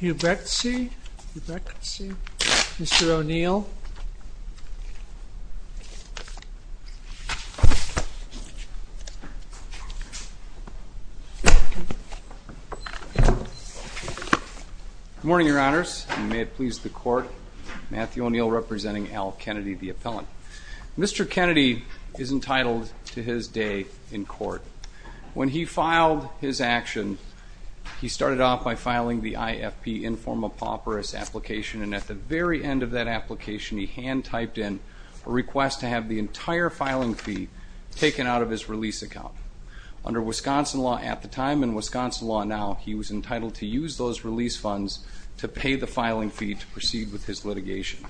Huibregtse, Huibregtse, Mr. O'Neill. Good morning, Your Honors, and may it please the Court, Matthew O'Neill representing Al Kennedy, the appellant. Mr. Kennedy is entitled to his day in court. When he filed his action, he started off by filing the IFP Informa Pauperis application, and at the very end of that application he hand-typed in a request to have the entire filing fee taken out of his release account. Under Wisconsin law at the time and Wisconsin law now, he was entitled to use those release funds to pay the filing fee to proceed with his litigation.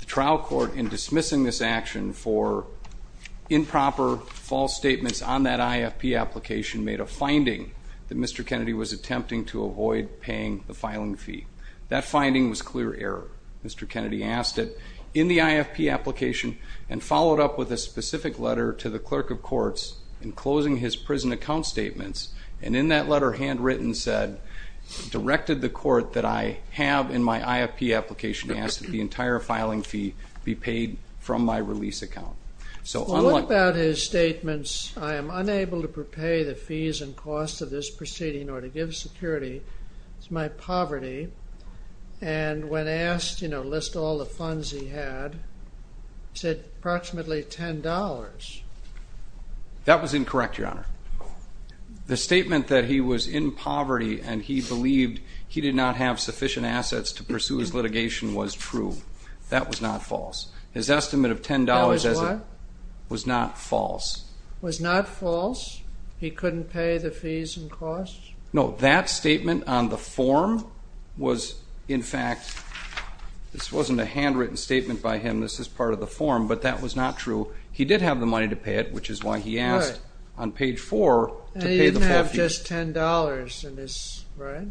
The trial court, in dismissing this action for improper, false statements on that IFP application, made a finding that Mr. Kennedy was attempting to avoid paying the filing fee. That finding was clear error. Mr. Kennedy asked it in the IFP application and followed up with a specific letter to the clerk of courts in closing his prison account statements, and in that letter, handwritten, said, directed the court that I have in my IFP application to ask that the entire filing fee be paid from my release account. So, unlike... What about his statements, I am unable to pay the fees and costs of this proceeding or to give security, it's my poverty, and when asked, you know, list all the funds he had, he said approximately $10. That was incorrect, Your Honor. The statement that he was in poverty and he believed he did not have sufficient assets to pursue his litigation was true. That was not false. His estimate of $10... That was what? Was not false. Was not false? He couldn't pay the fees and costs? No, that statement on the form was, in fact, this wasn't a handwritten statement by him, this is part of the form, but that was not true. He did have the money to pay it, which is why he asked on page 4 to pay the full fees. And he didn't have just $10 in his, right?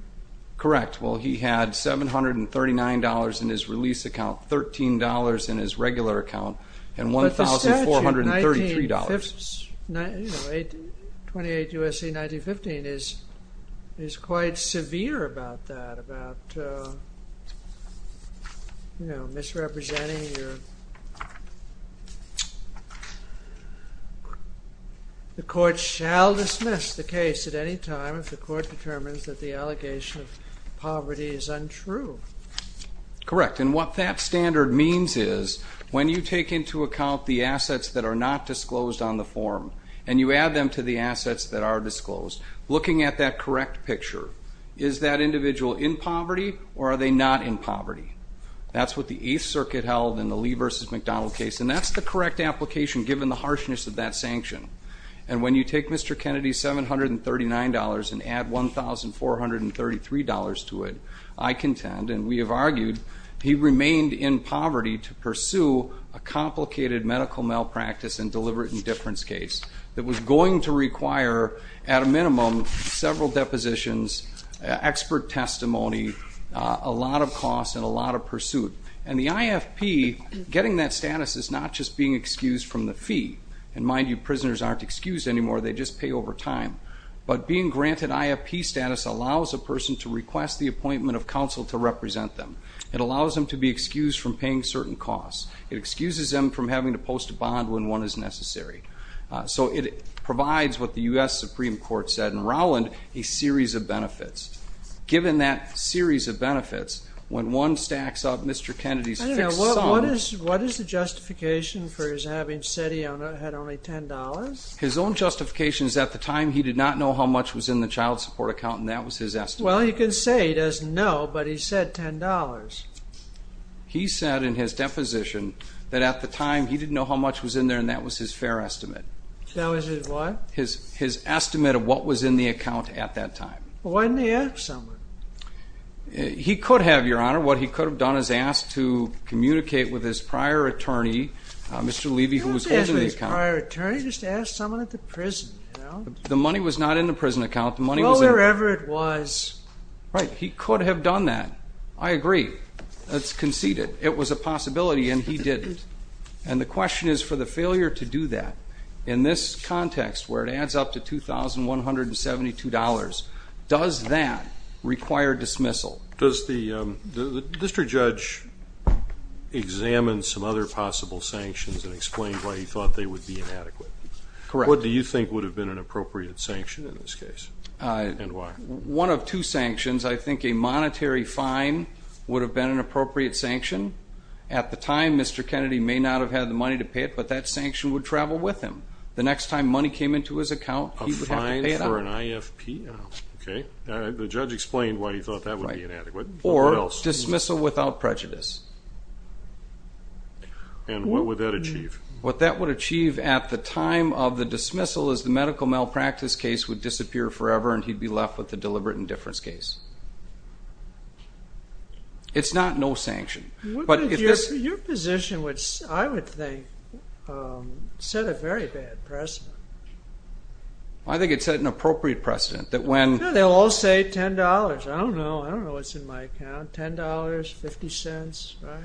Correct. Well, he had $739 in his release account, $13 in his regular account, and $1,433. You know, 28 U.S.C. 1915 is quite severe about that, about, you know, misrepresenting your... The court shall dismiss the case at any time if the court determines that the allegation of poverty is untrue. Correct. And what that standard means is when you take into account the assets that are not disclosed on the form and you add them to the assets that are disclosed, looking at that correct picture, is that individual in poverty or are they not in poverty? That's what the Eighth Circuit held in the Lee v. McDonald case, and that's the correct application given the harshness of that sanction. And when you take Mr. Kennedy's $739 and add $1,433 to it, I contend, and we have argued, he remained in poverty to pursue a complicated medical malpractice and deliberate indifference case that was going to require, at a minimum, several depositions, expert testimony, a lot of cost, and a lot of pursuit. And the IFP, getting that status is not just being excused from the fee. And mind you, prisoners aren't excused anymore, they just pay over time. But being granted IFP status allows a person to request the appointment of counsel to represent them. It allows them to be excused from paying certain costs. It excuses them from having to post a bond when one is necessary. So it provides what the U.S. Supreme Court said in Rowland, a series of benefits. Given that series of benefits, when one stacks up Mr. Kennedy's fixed sum. I don't know, what is the justification for his having said he had only $10? His own justification is at the time he did not know how much was in the child support account, and that was his estimate. Well, he can say he doesn't know, but he said $10. He said in his deposition that at the time he didn't know how much was in there, and that was his fair estimate. That was his what? His estimate of what was in the account at that time. Why didn't he ask someone? He could have, Your Honor. What he could have done is asked to communicate with his prior attorney, Mr. Levy, who was holding the account. His prior attorney just asked someone at the prison, you know? The money was not in the prison account. Well, wherever it was. Right. He could have done that. I agree. That's conceded. It was a possibility, and he didn't. And the question is for the failure to do that in this context where it adds up to $2,172, does that require dismissal? Does the district judge examine some other possible sanctions and explain why he thought they would be inadequate? Correct. What do you think would have been an appropriate sanction in this case, and why? One of two sanctions. I think a monetary fine would have been an appropriate sanction. At the time, Mr. Kennedy may not have had the money to pay it, but that sanction would travel with him. The next time money came into his account, he would have to pay it out. A fine for an IFP? Okay. The judge explained why he thought that would be inadequate. Or dismissal without prejudice. And what would that achieve? What that would achieve at the time of the dismissal is the medical malpractice case would disappear forever and he'd be left with a deliberate indifference case. It's not no sanction. Your position, which I would think set a very bad precedent. I think it set an appropriate precedent. They'll all say $10. I don't know. I don't know what's in my account. $10? 50 cents? Right?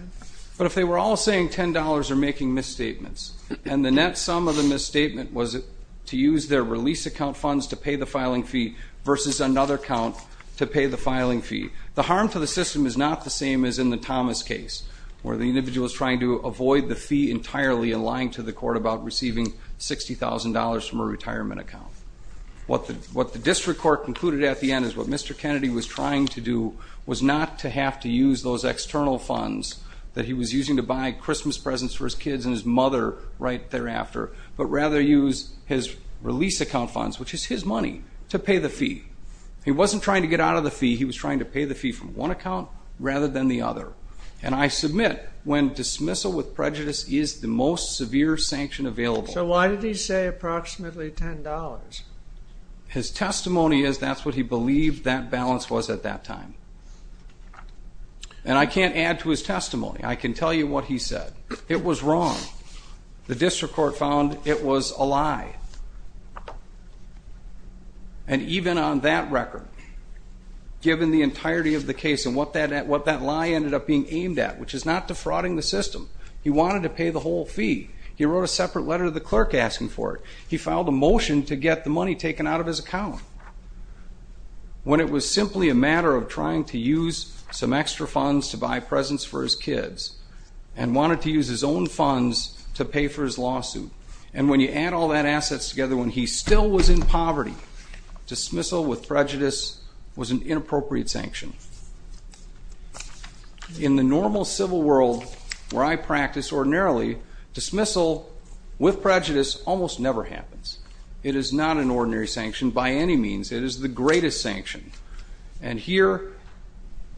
But if they were all saying $10 or making misstatements, and the net sum of the misstatement was to use their release account funds to pay the filing fee versus another account to pay the filing fee, the harm to the system is not the same as in the Thomas case where the individual is trying to avoid the fee entirely and lying to the court about receiving $60,000 from a retirement account. What the district court concluded at the end is what Mr. Kennedy was trying to do was not to have to use those external funds that he was using to buy Christmas presents for his kids and his mother right thereafter, but rather use his release account funds, which is his money, to pay the fee. He wasn't trying to get out of the fee. He was trying to pay the fee from one account rather than the other. And I submit when dismissal with prejudice is the most severe sanction available. So why did he say approximately $10? His testimony is that's what he believed that balance was at that time. And I can't add to his testimony. I can tell you what he said. It was wrong. The district court found it was a lie. And even on that record, given the entirety of the case and what that lie ended up being aimed at, which is not defrauding the system, he wanted to pay the whole fee. He wrote a separate letter to the clerk asking for it. He filed a motion to get the money taken out of his account. When it was simply a matter of trying to use some extra funds to buy presents for his kids and wanted to use his own funds to pay for his lawsuit, and when you add all that assets together, when he still was in poverty, dismissal with prejudice was an inappropriate sanction. In the normal civil world where I practice ordinarily, dismissal with prejudice almost never happens. It is not an ordinary sanction by any means. It is the greatest sanction. And here,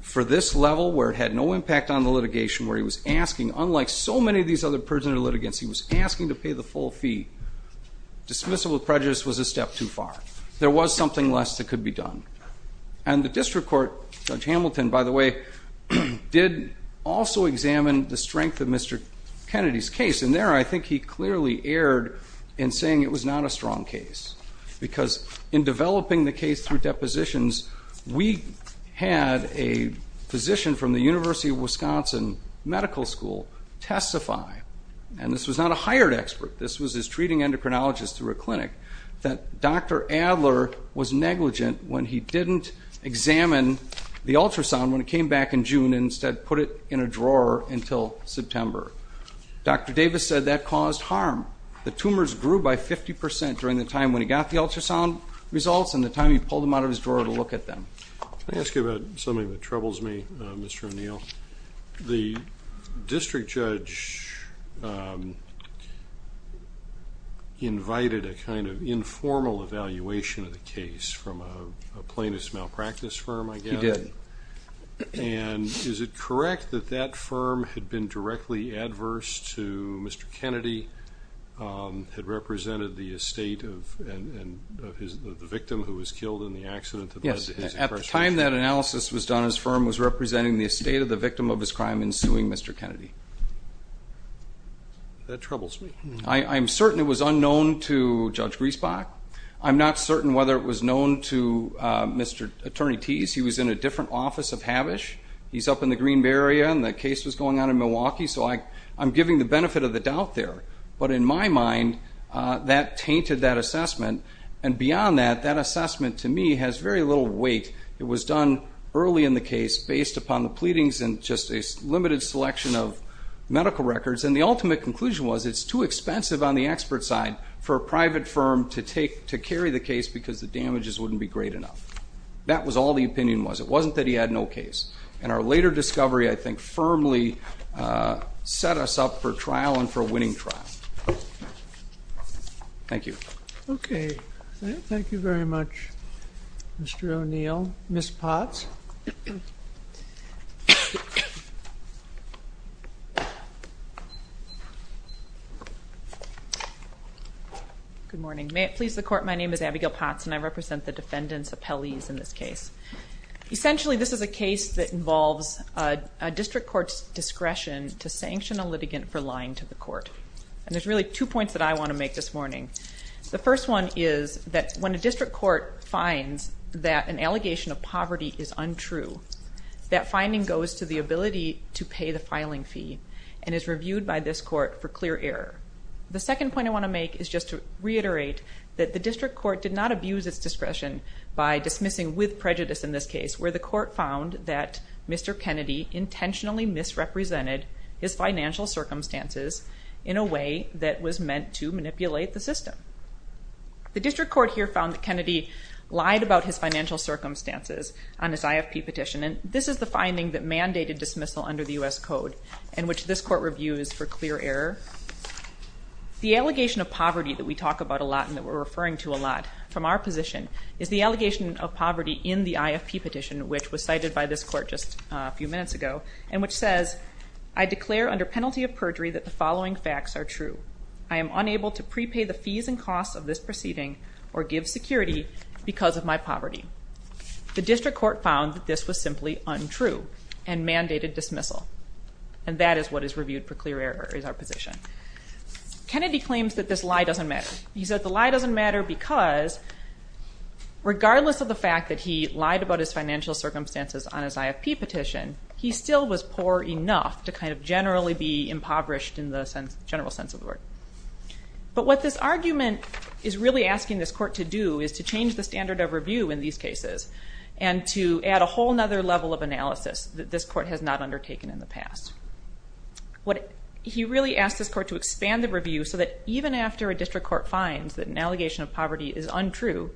for this level where it had no impact on the litigation, where he was asking, unlike so many of these other prisoner litigants, he was asking to pay the full fee, dismissal with prejudice was a step too far. There was something less that could be done. And the district court, Judge Hamilton, by the way, did also examine the strength of Mr. Kennedy's case, and there I think he clearly erred in saying it was not a strong case because in developing the case through depositions, we had a physician from the University of Wisconsin Medical School testify, and this was not a hired expert, this was his treating endocrinologist through a clinic, that Dr. Adler was negligent when he didn't examine the ultrasound when it came back in June and instead put it in a drawer until September. Dr. Davis said that caused harm. The tumors grew by 50% during the time when he got the ultrasound results and the time he pulled them out of his drawer to look at them. Let me ask you about something that troubles me, Mr. O'Neill. The district judge invited a kind of informal evaluation of the case from a plaintiff's malpractice firm, I guess. He did. And is it correct that that firm had been directly adverse to Mr. Kennedy, had represented the estate of the victim who was killed in the accident? Yes, at the time that analysis was done, his firm was representing the estate of the victim of his crime in suing Mr. Kennedy. That troubles me. I'm certain it was unknown to Judge Griesbach. I'm not certain whether it was known to Mr. Attorney Tease. He was in a different office of Havish. He's up in the Green Bay area and the case was going on in Milwaukee, so I'm giving the benefit of the doubt there. But in my mind, that tainted that assessment. And beyond that, that assessment to me has very little weight. It was done early in the case based upon the pleadings and just a limited selection of medical records. And the ultimate conclusion was it's too expensive on the expert side for a private firm to carry the case because the damages wouldn't be great enough. That was all the opinion was. It wasn't that he had no case. And our later discovery, I think, firmly set us up for trial and for a winning trial. Thank you. Okay. Thank you very much, Mr. O'Neill. Ms. Potts? Good morning. May it please the Court, my name is Abigail Potts and I represent the defendants' appellees in this case. Essentially, this is a case that involves a district court's discretion to sanction a litigant for lying to the court. And there's really two points that I want to make this morning. The first one is that when a district court finds that an allegation of poverty is untrue, that finding goes to the ability to pay the filing fee and is reviewed by this court for clear error. The second point I want to make is just to reiterate that the district court did not abuse its discretion by dismissing with prejudice in this case where the court found that Mr. Kennedy intentionally misrepresented his financial circumstances in a way that was meant to manipulate the system. The district court here found that Kennedy lied about his financial circumstances on his IFP petition and this is the finding that mandated dismissal under the U.S. Code and which this court reviews for clear error. The allegation of poverty that we talk about a lot and that we're referring to a lot from our position is the allegation of poverty in the IFP petition which was cited by this court just a few minutes ago and which says, I declare under penalty of perjury that the following facts are true. I am unable to prepay the fees and costs of this proceeding or give security because of my poverty. The district court found that this was simply untrue and mandated dismissal and that is what is reviewed for clear error is our position. Kennedy claims that this lie doesn't matter. He said the lie doesn't matter because regardless of the fact that he lied about his financial circumstances on his IFP petition, he still was poor enough to kind of generally be impoverished in the general sense of the word. But what this argument is really asking this court to do is to change the standard of review in these cases and to add a whole other level of analysis that this court has not undertaken in the past. He really asked this court to expand the review so that even after a district court finds that an allegation of poverty is untrue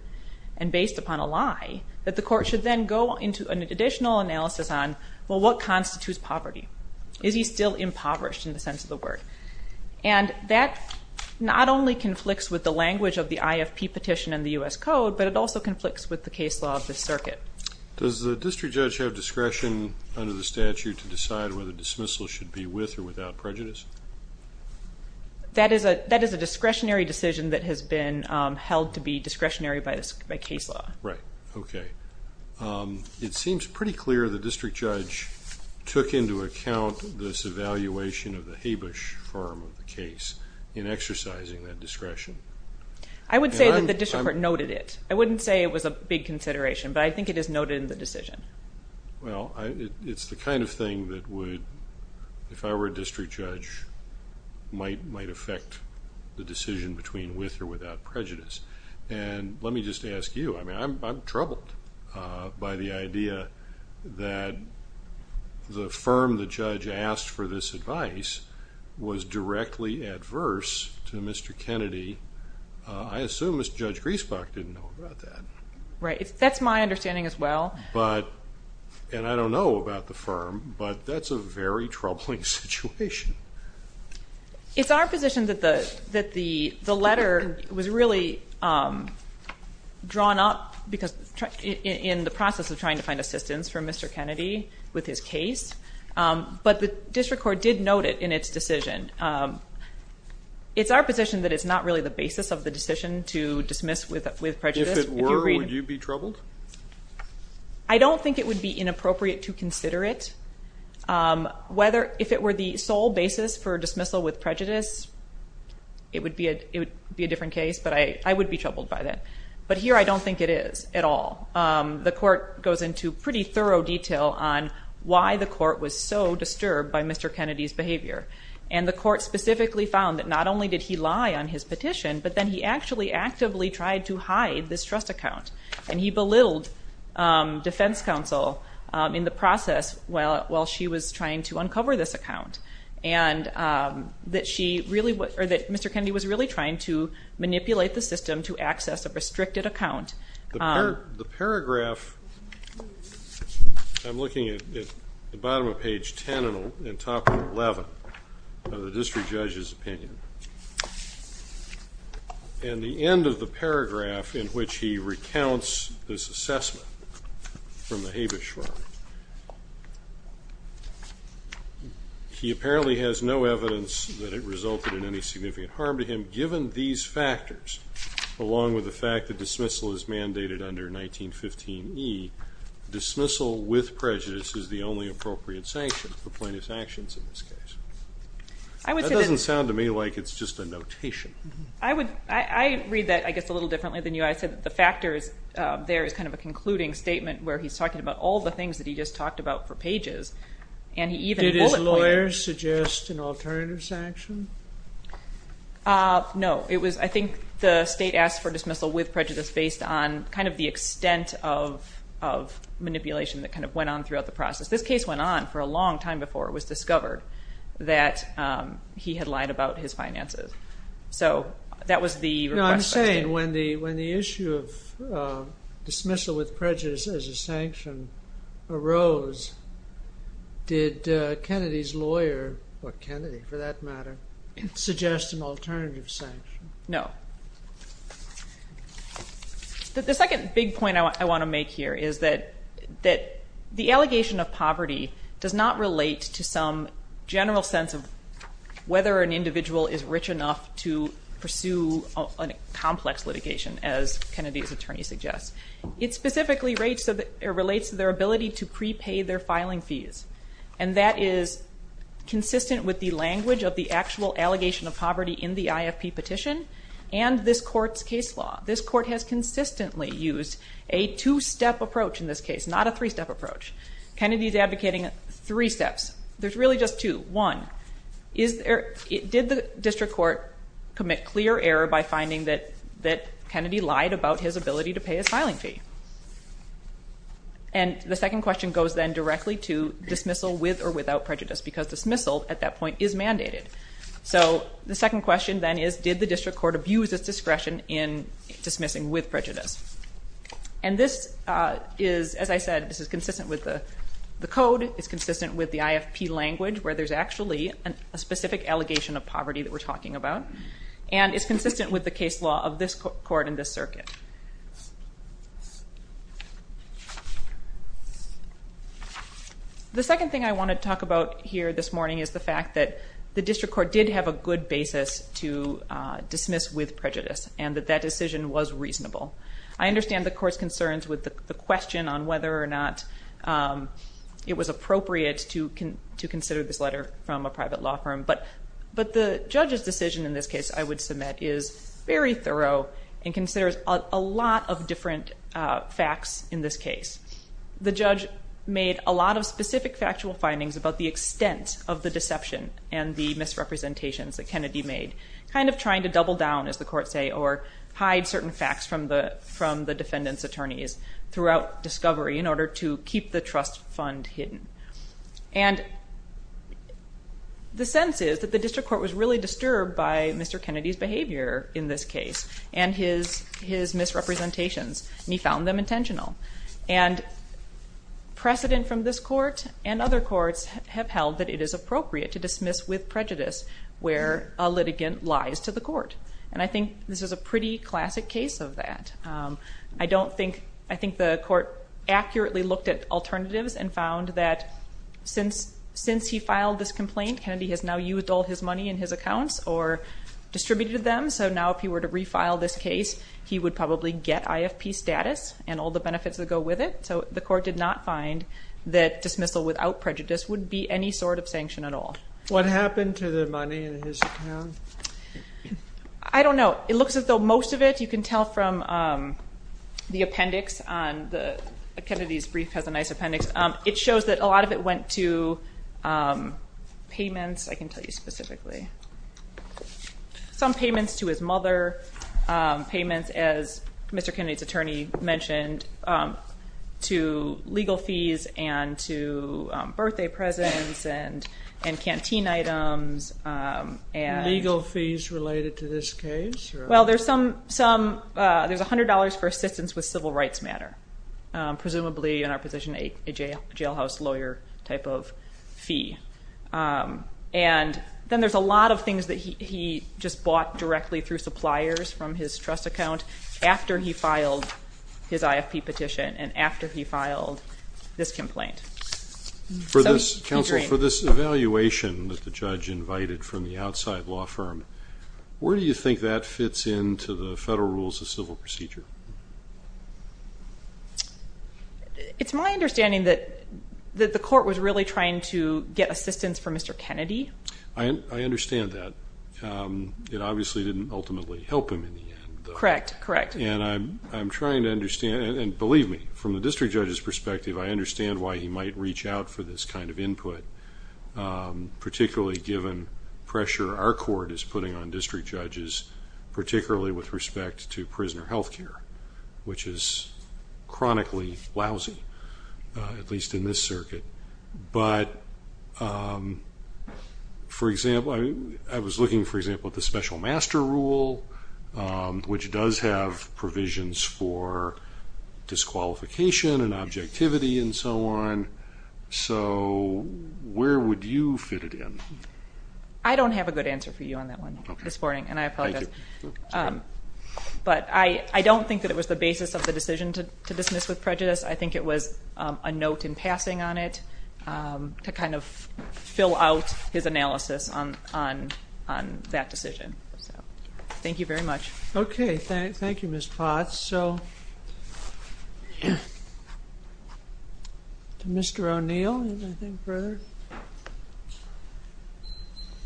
and based upon a lie, that the court should then go into an additional analysis on, well, what constitutes poverty? Is he still impoverished in the sense of the word? And that not only conflicts with the language of the IFP petition in the U.S. Code, but it also conflicts with the case law of this circuit. Does the district judge have discretion under the statute to decide whether dismissal should be with or without prejudice? That is a discretionary decision that has been held to be discretionary by case law. Right. Okay. It seems pretty clear the district judge took into account this evaluation of the Habush firm of the case in exercising that discretion. I would say that the district court noted it. I wouldn't say it was a big consideration, but I think it is noted in the decision. Well, it's the kind of thing that would, if I were a district judge, might affect the decision between with or without prejudice. And let me just ask you. I mean, I'm troubled by the idea that the firm the judge asked for this advice was directly adverse to Mr. Kennedy. I assume Mr. Judge Griesbach didn't know about that. Right. That's my understanding as well. And I don't know about the firm, but that's a very troubling situation. It's our position that the letter was really drawn up in the process of trying to find assistance for Mr. Kennedy with his case. But the district court did note it in its decision. It's our position that it's not really the basis of the decision to dismiss with prejudice. If it were, would you be troubled? I don't think it would be inappropriate to consider it. If it were the sole basis for dismissal with prejudice, it would be a different case, but I would be troubled by that. But here I don't think it is at all. The court goes into pretty thorough detail on why the court was so disturbed by Mr. Kennedy's behavior. And the court specifically found that not only did he lie on his petition, but then he actually actively tried to hide this trust account. And he belittled defense counsel in the process while she was trying to uncover this account, and that Mr. Kennedy was really trying to manipulate the system to access a restricted account. The paragraph, I'm looking at the bottom of page 10 and top of 11 of the district judge's opinion. And the end of the paragraph in which he recounts this assessment from the Habeas Shrine. He apparently has no evidence that it resulted in any significant harm to him, given these factors, along with the fact that dismissal is mandated under 1915E. Dismissal with prejudice is the only appropriate sanction for plaintiff's actions in this case. That doesn't sound to me like it's just a notation. I read that, I guess, a little differently than you. I said the factors there is kind of a concluding statement where he's talking about all the things that he just talked about for pages. Did his lawyers suggest an alternative sanction? No. I think the state asked for dismissal with prejudice based on kind of the extent of manipulation that kind of went on throughout the process. This case went on for a long time before it was discovered that he had lied about his finances. So that was the request. I'm saying when the issue of dismissal with prejudice as a sanction arose, did Kennedy's lawyer, or Kennedy for that matter, suggest an alternative sanction? No. The second big point I want to make here is that the allegation of poverty does not relate to some general sense of whether an individual is rich enough to pursue a complex litigation, as Kennedy's attorney suggests. It specifically relates to their ability to prepay their filing fees. And that is consistent with the language of the actual allegation of poverty in the IFP petition and this court's case law. This court has consistently used a two-step approach in this case, not a three-step approach. Kennedy's advocating three steps. There's really just two. One, did the district court commit clear error by finding that Kennedy lied about his ability to pay his filing fee? And the second question goes then directly to dismissal with or without prejudice, because dismissal at that point is mandated. So the second question then is, did the district court abuse its discretion in dismissing with prejudice? And this is, as I said, this is consistent with the code. It's consistent with the IFP language, where there's actually a specific allegation of poverty that we're talking about. And it's consistent with the case law of this court and this circuit. The second thing I want to talk about here this morning is the fact that the district court did have a good basis to dismiss with prejudice, and that that decision was reasonable. I understand the court's concerns with the question on whether or not it was appropriate to consider this letter from a private law firm. But the judge's decision in this case, I would submit, is very thorough and considers a lot of different facts in this case. The judge made a lot of specific factual findings about the extent of the deception and the misrepresentations that Kennedy made, kind of trying to double down, as the courts say, or hide certain facts from the defendant's attorneys throughout discovery in order to keep the trust fund hidden. And the sense is that the district court was really disturbed by Mr. Kennedy's behavior in this case and his misrepresentations, and he found them intentional. And precedent from this court and other courts have held that it is appropriate to dismiss with prejudice where a litigant lies to the court. And I think this is a pretty classic case of that. I think the court accurately looked at alternatives and found that since he filed this complaint, Kennedy has now used all his money in his accounts or distributed them. So now if he were to refile this case, he would probably get IFP status and all the benefits that go with it. So the court did not find that dismissal without prejudice would be any sort of sanction at all. What happened to the money in his account? I don't know. It looks as though most of it you can tell from the appendix. Kennedy's brief has a nice appendix. It shows that a lot of it went to payments. I can tell you specifically. Some payments to his mother, payments, as Mr. Kennedy's attorney mentioned, to legal fees and to birthday presents and canteen items. Legal fees related to this case? Well, there's $100 for assistance with civil rights matter, presumably in our position a jailhouse lawyer type of fee. And then there's a lot of things that he just bought directly through suppliers from his trust account after he filed his IFP petition and after he filed this complaint. Counsel, for this evaluation that the judge invited from the outside law firm, where do you think that fits into the federal rules of civil procedure? It's my understanding that the court was really trying to get assistance from Mr. Kennedy. I understand that. It obviously didn't ultimately help him in the end. Correct, correct. And I'm trying to understand, and believe me, from the district judge's perspective, I understand why he might reach out for this kind of input, particularly given pressure our court is putting on district judges, particularly with respect to prisoner health care, which is chronically lousy, at least in this circuit. But, for example, I was looking, for example, at the special master rule, which does have provisions for disqualification and objectivity and so on. So where would you fit it in? I don't have a good answer for you on that one this morning, and I apologize. But I don't think that it was the basis of the decision to dismiss with prejudice. I think it was a note in passing on it to kind of fill out his analysis on that decision. Thank you very much. Okay. Thank you, Ms. Potts. Mr. O'Neill, anything further?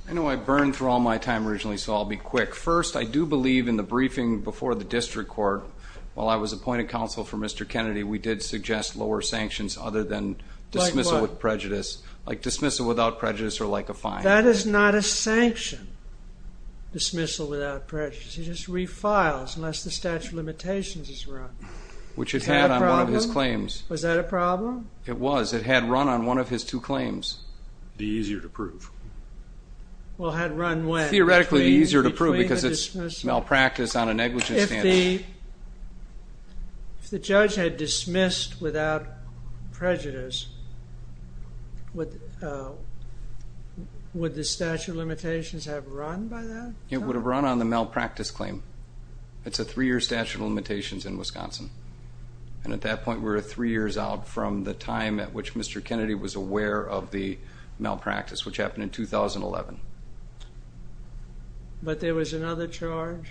I know I burned for all my time originally, so I'll be quick. First, I do believe in the briefing before the district court, while I was appointed counsel for Mr. Kennedy, we did suggest lower sanctions other than dismissal with prejudice, like dismissal without prejudice or like a fine. That is not a sanction, dismissal without prejudice. He just refiles unless the statute of limitations is run. Which it had on one of his claims. Was that a problem? It was. It had run on one of his two claims. The easier to prove. Well, had run when? Theoretically, the easier to prove because it's malpractice on a negligence standard. If the judge had dismissed without prejudice, would the statute of limitations have run by then? It would have run on the malpractice claim. It's a three-year statute of limitations in Wisconsin. And at that point, we were three years out from the time at which Mr. Kennedy was aware of the malpractice, which happened in 2011. But there was another charge?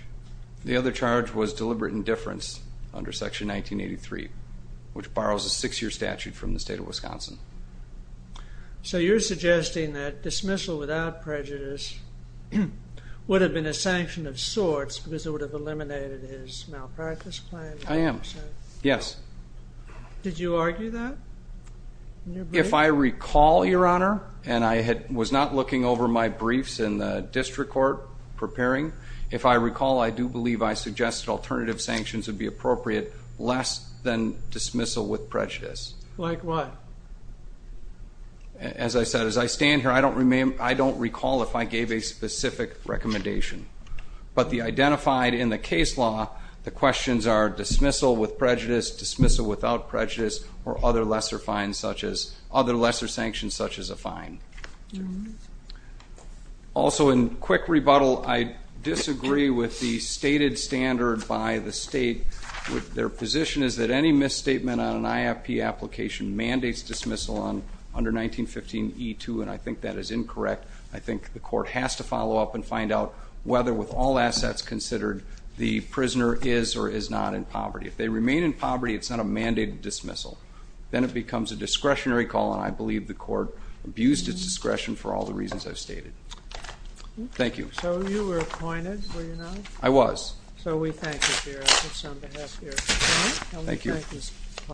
The other charge was deliberate indifference under Section 1983, which borrows a six-year statute from the state of Wisconsin. So you're suggesting that dismissal without prejudice would have been a sanction of sorts because it would have eliminated his malpractice claim? I am. Yes. Did you argue that in your brief? If I recall, Your Honor, and I was not looking over my briefs in the district court preparing, if I recall, I do believe I suggested alternative sanctions would be appropriate less than dismissal with prejudice. Like what? As I said, as I stand here, I don't recall if I gave a specific recommendation. But the identified in the case law, the questions are dismissal with prejudice, dismissal without prejudice, or other lesser sanctions such as a fine. Also, in quick rebuttal, I disagree with the stated standard by the state. Their position is that any misstatement on an IFP application mandates dismissal under 1915E2, and I think that is incorrect. I think the court has to follow up and find out whether with all assets considered the prisoner is or is not in poverty. If they remain in poverty, it's not a mandated dismissal. Then it becomes a discretionary call, and I believe the court abused its discretion for all the reasons I've stated. Thank you. So you were appointed, were you not? I was. So we thank you, Your Honor. It's on behalf of your attorney. Thank you.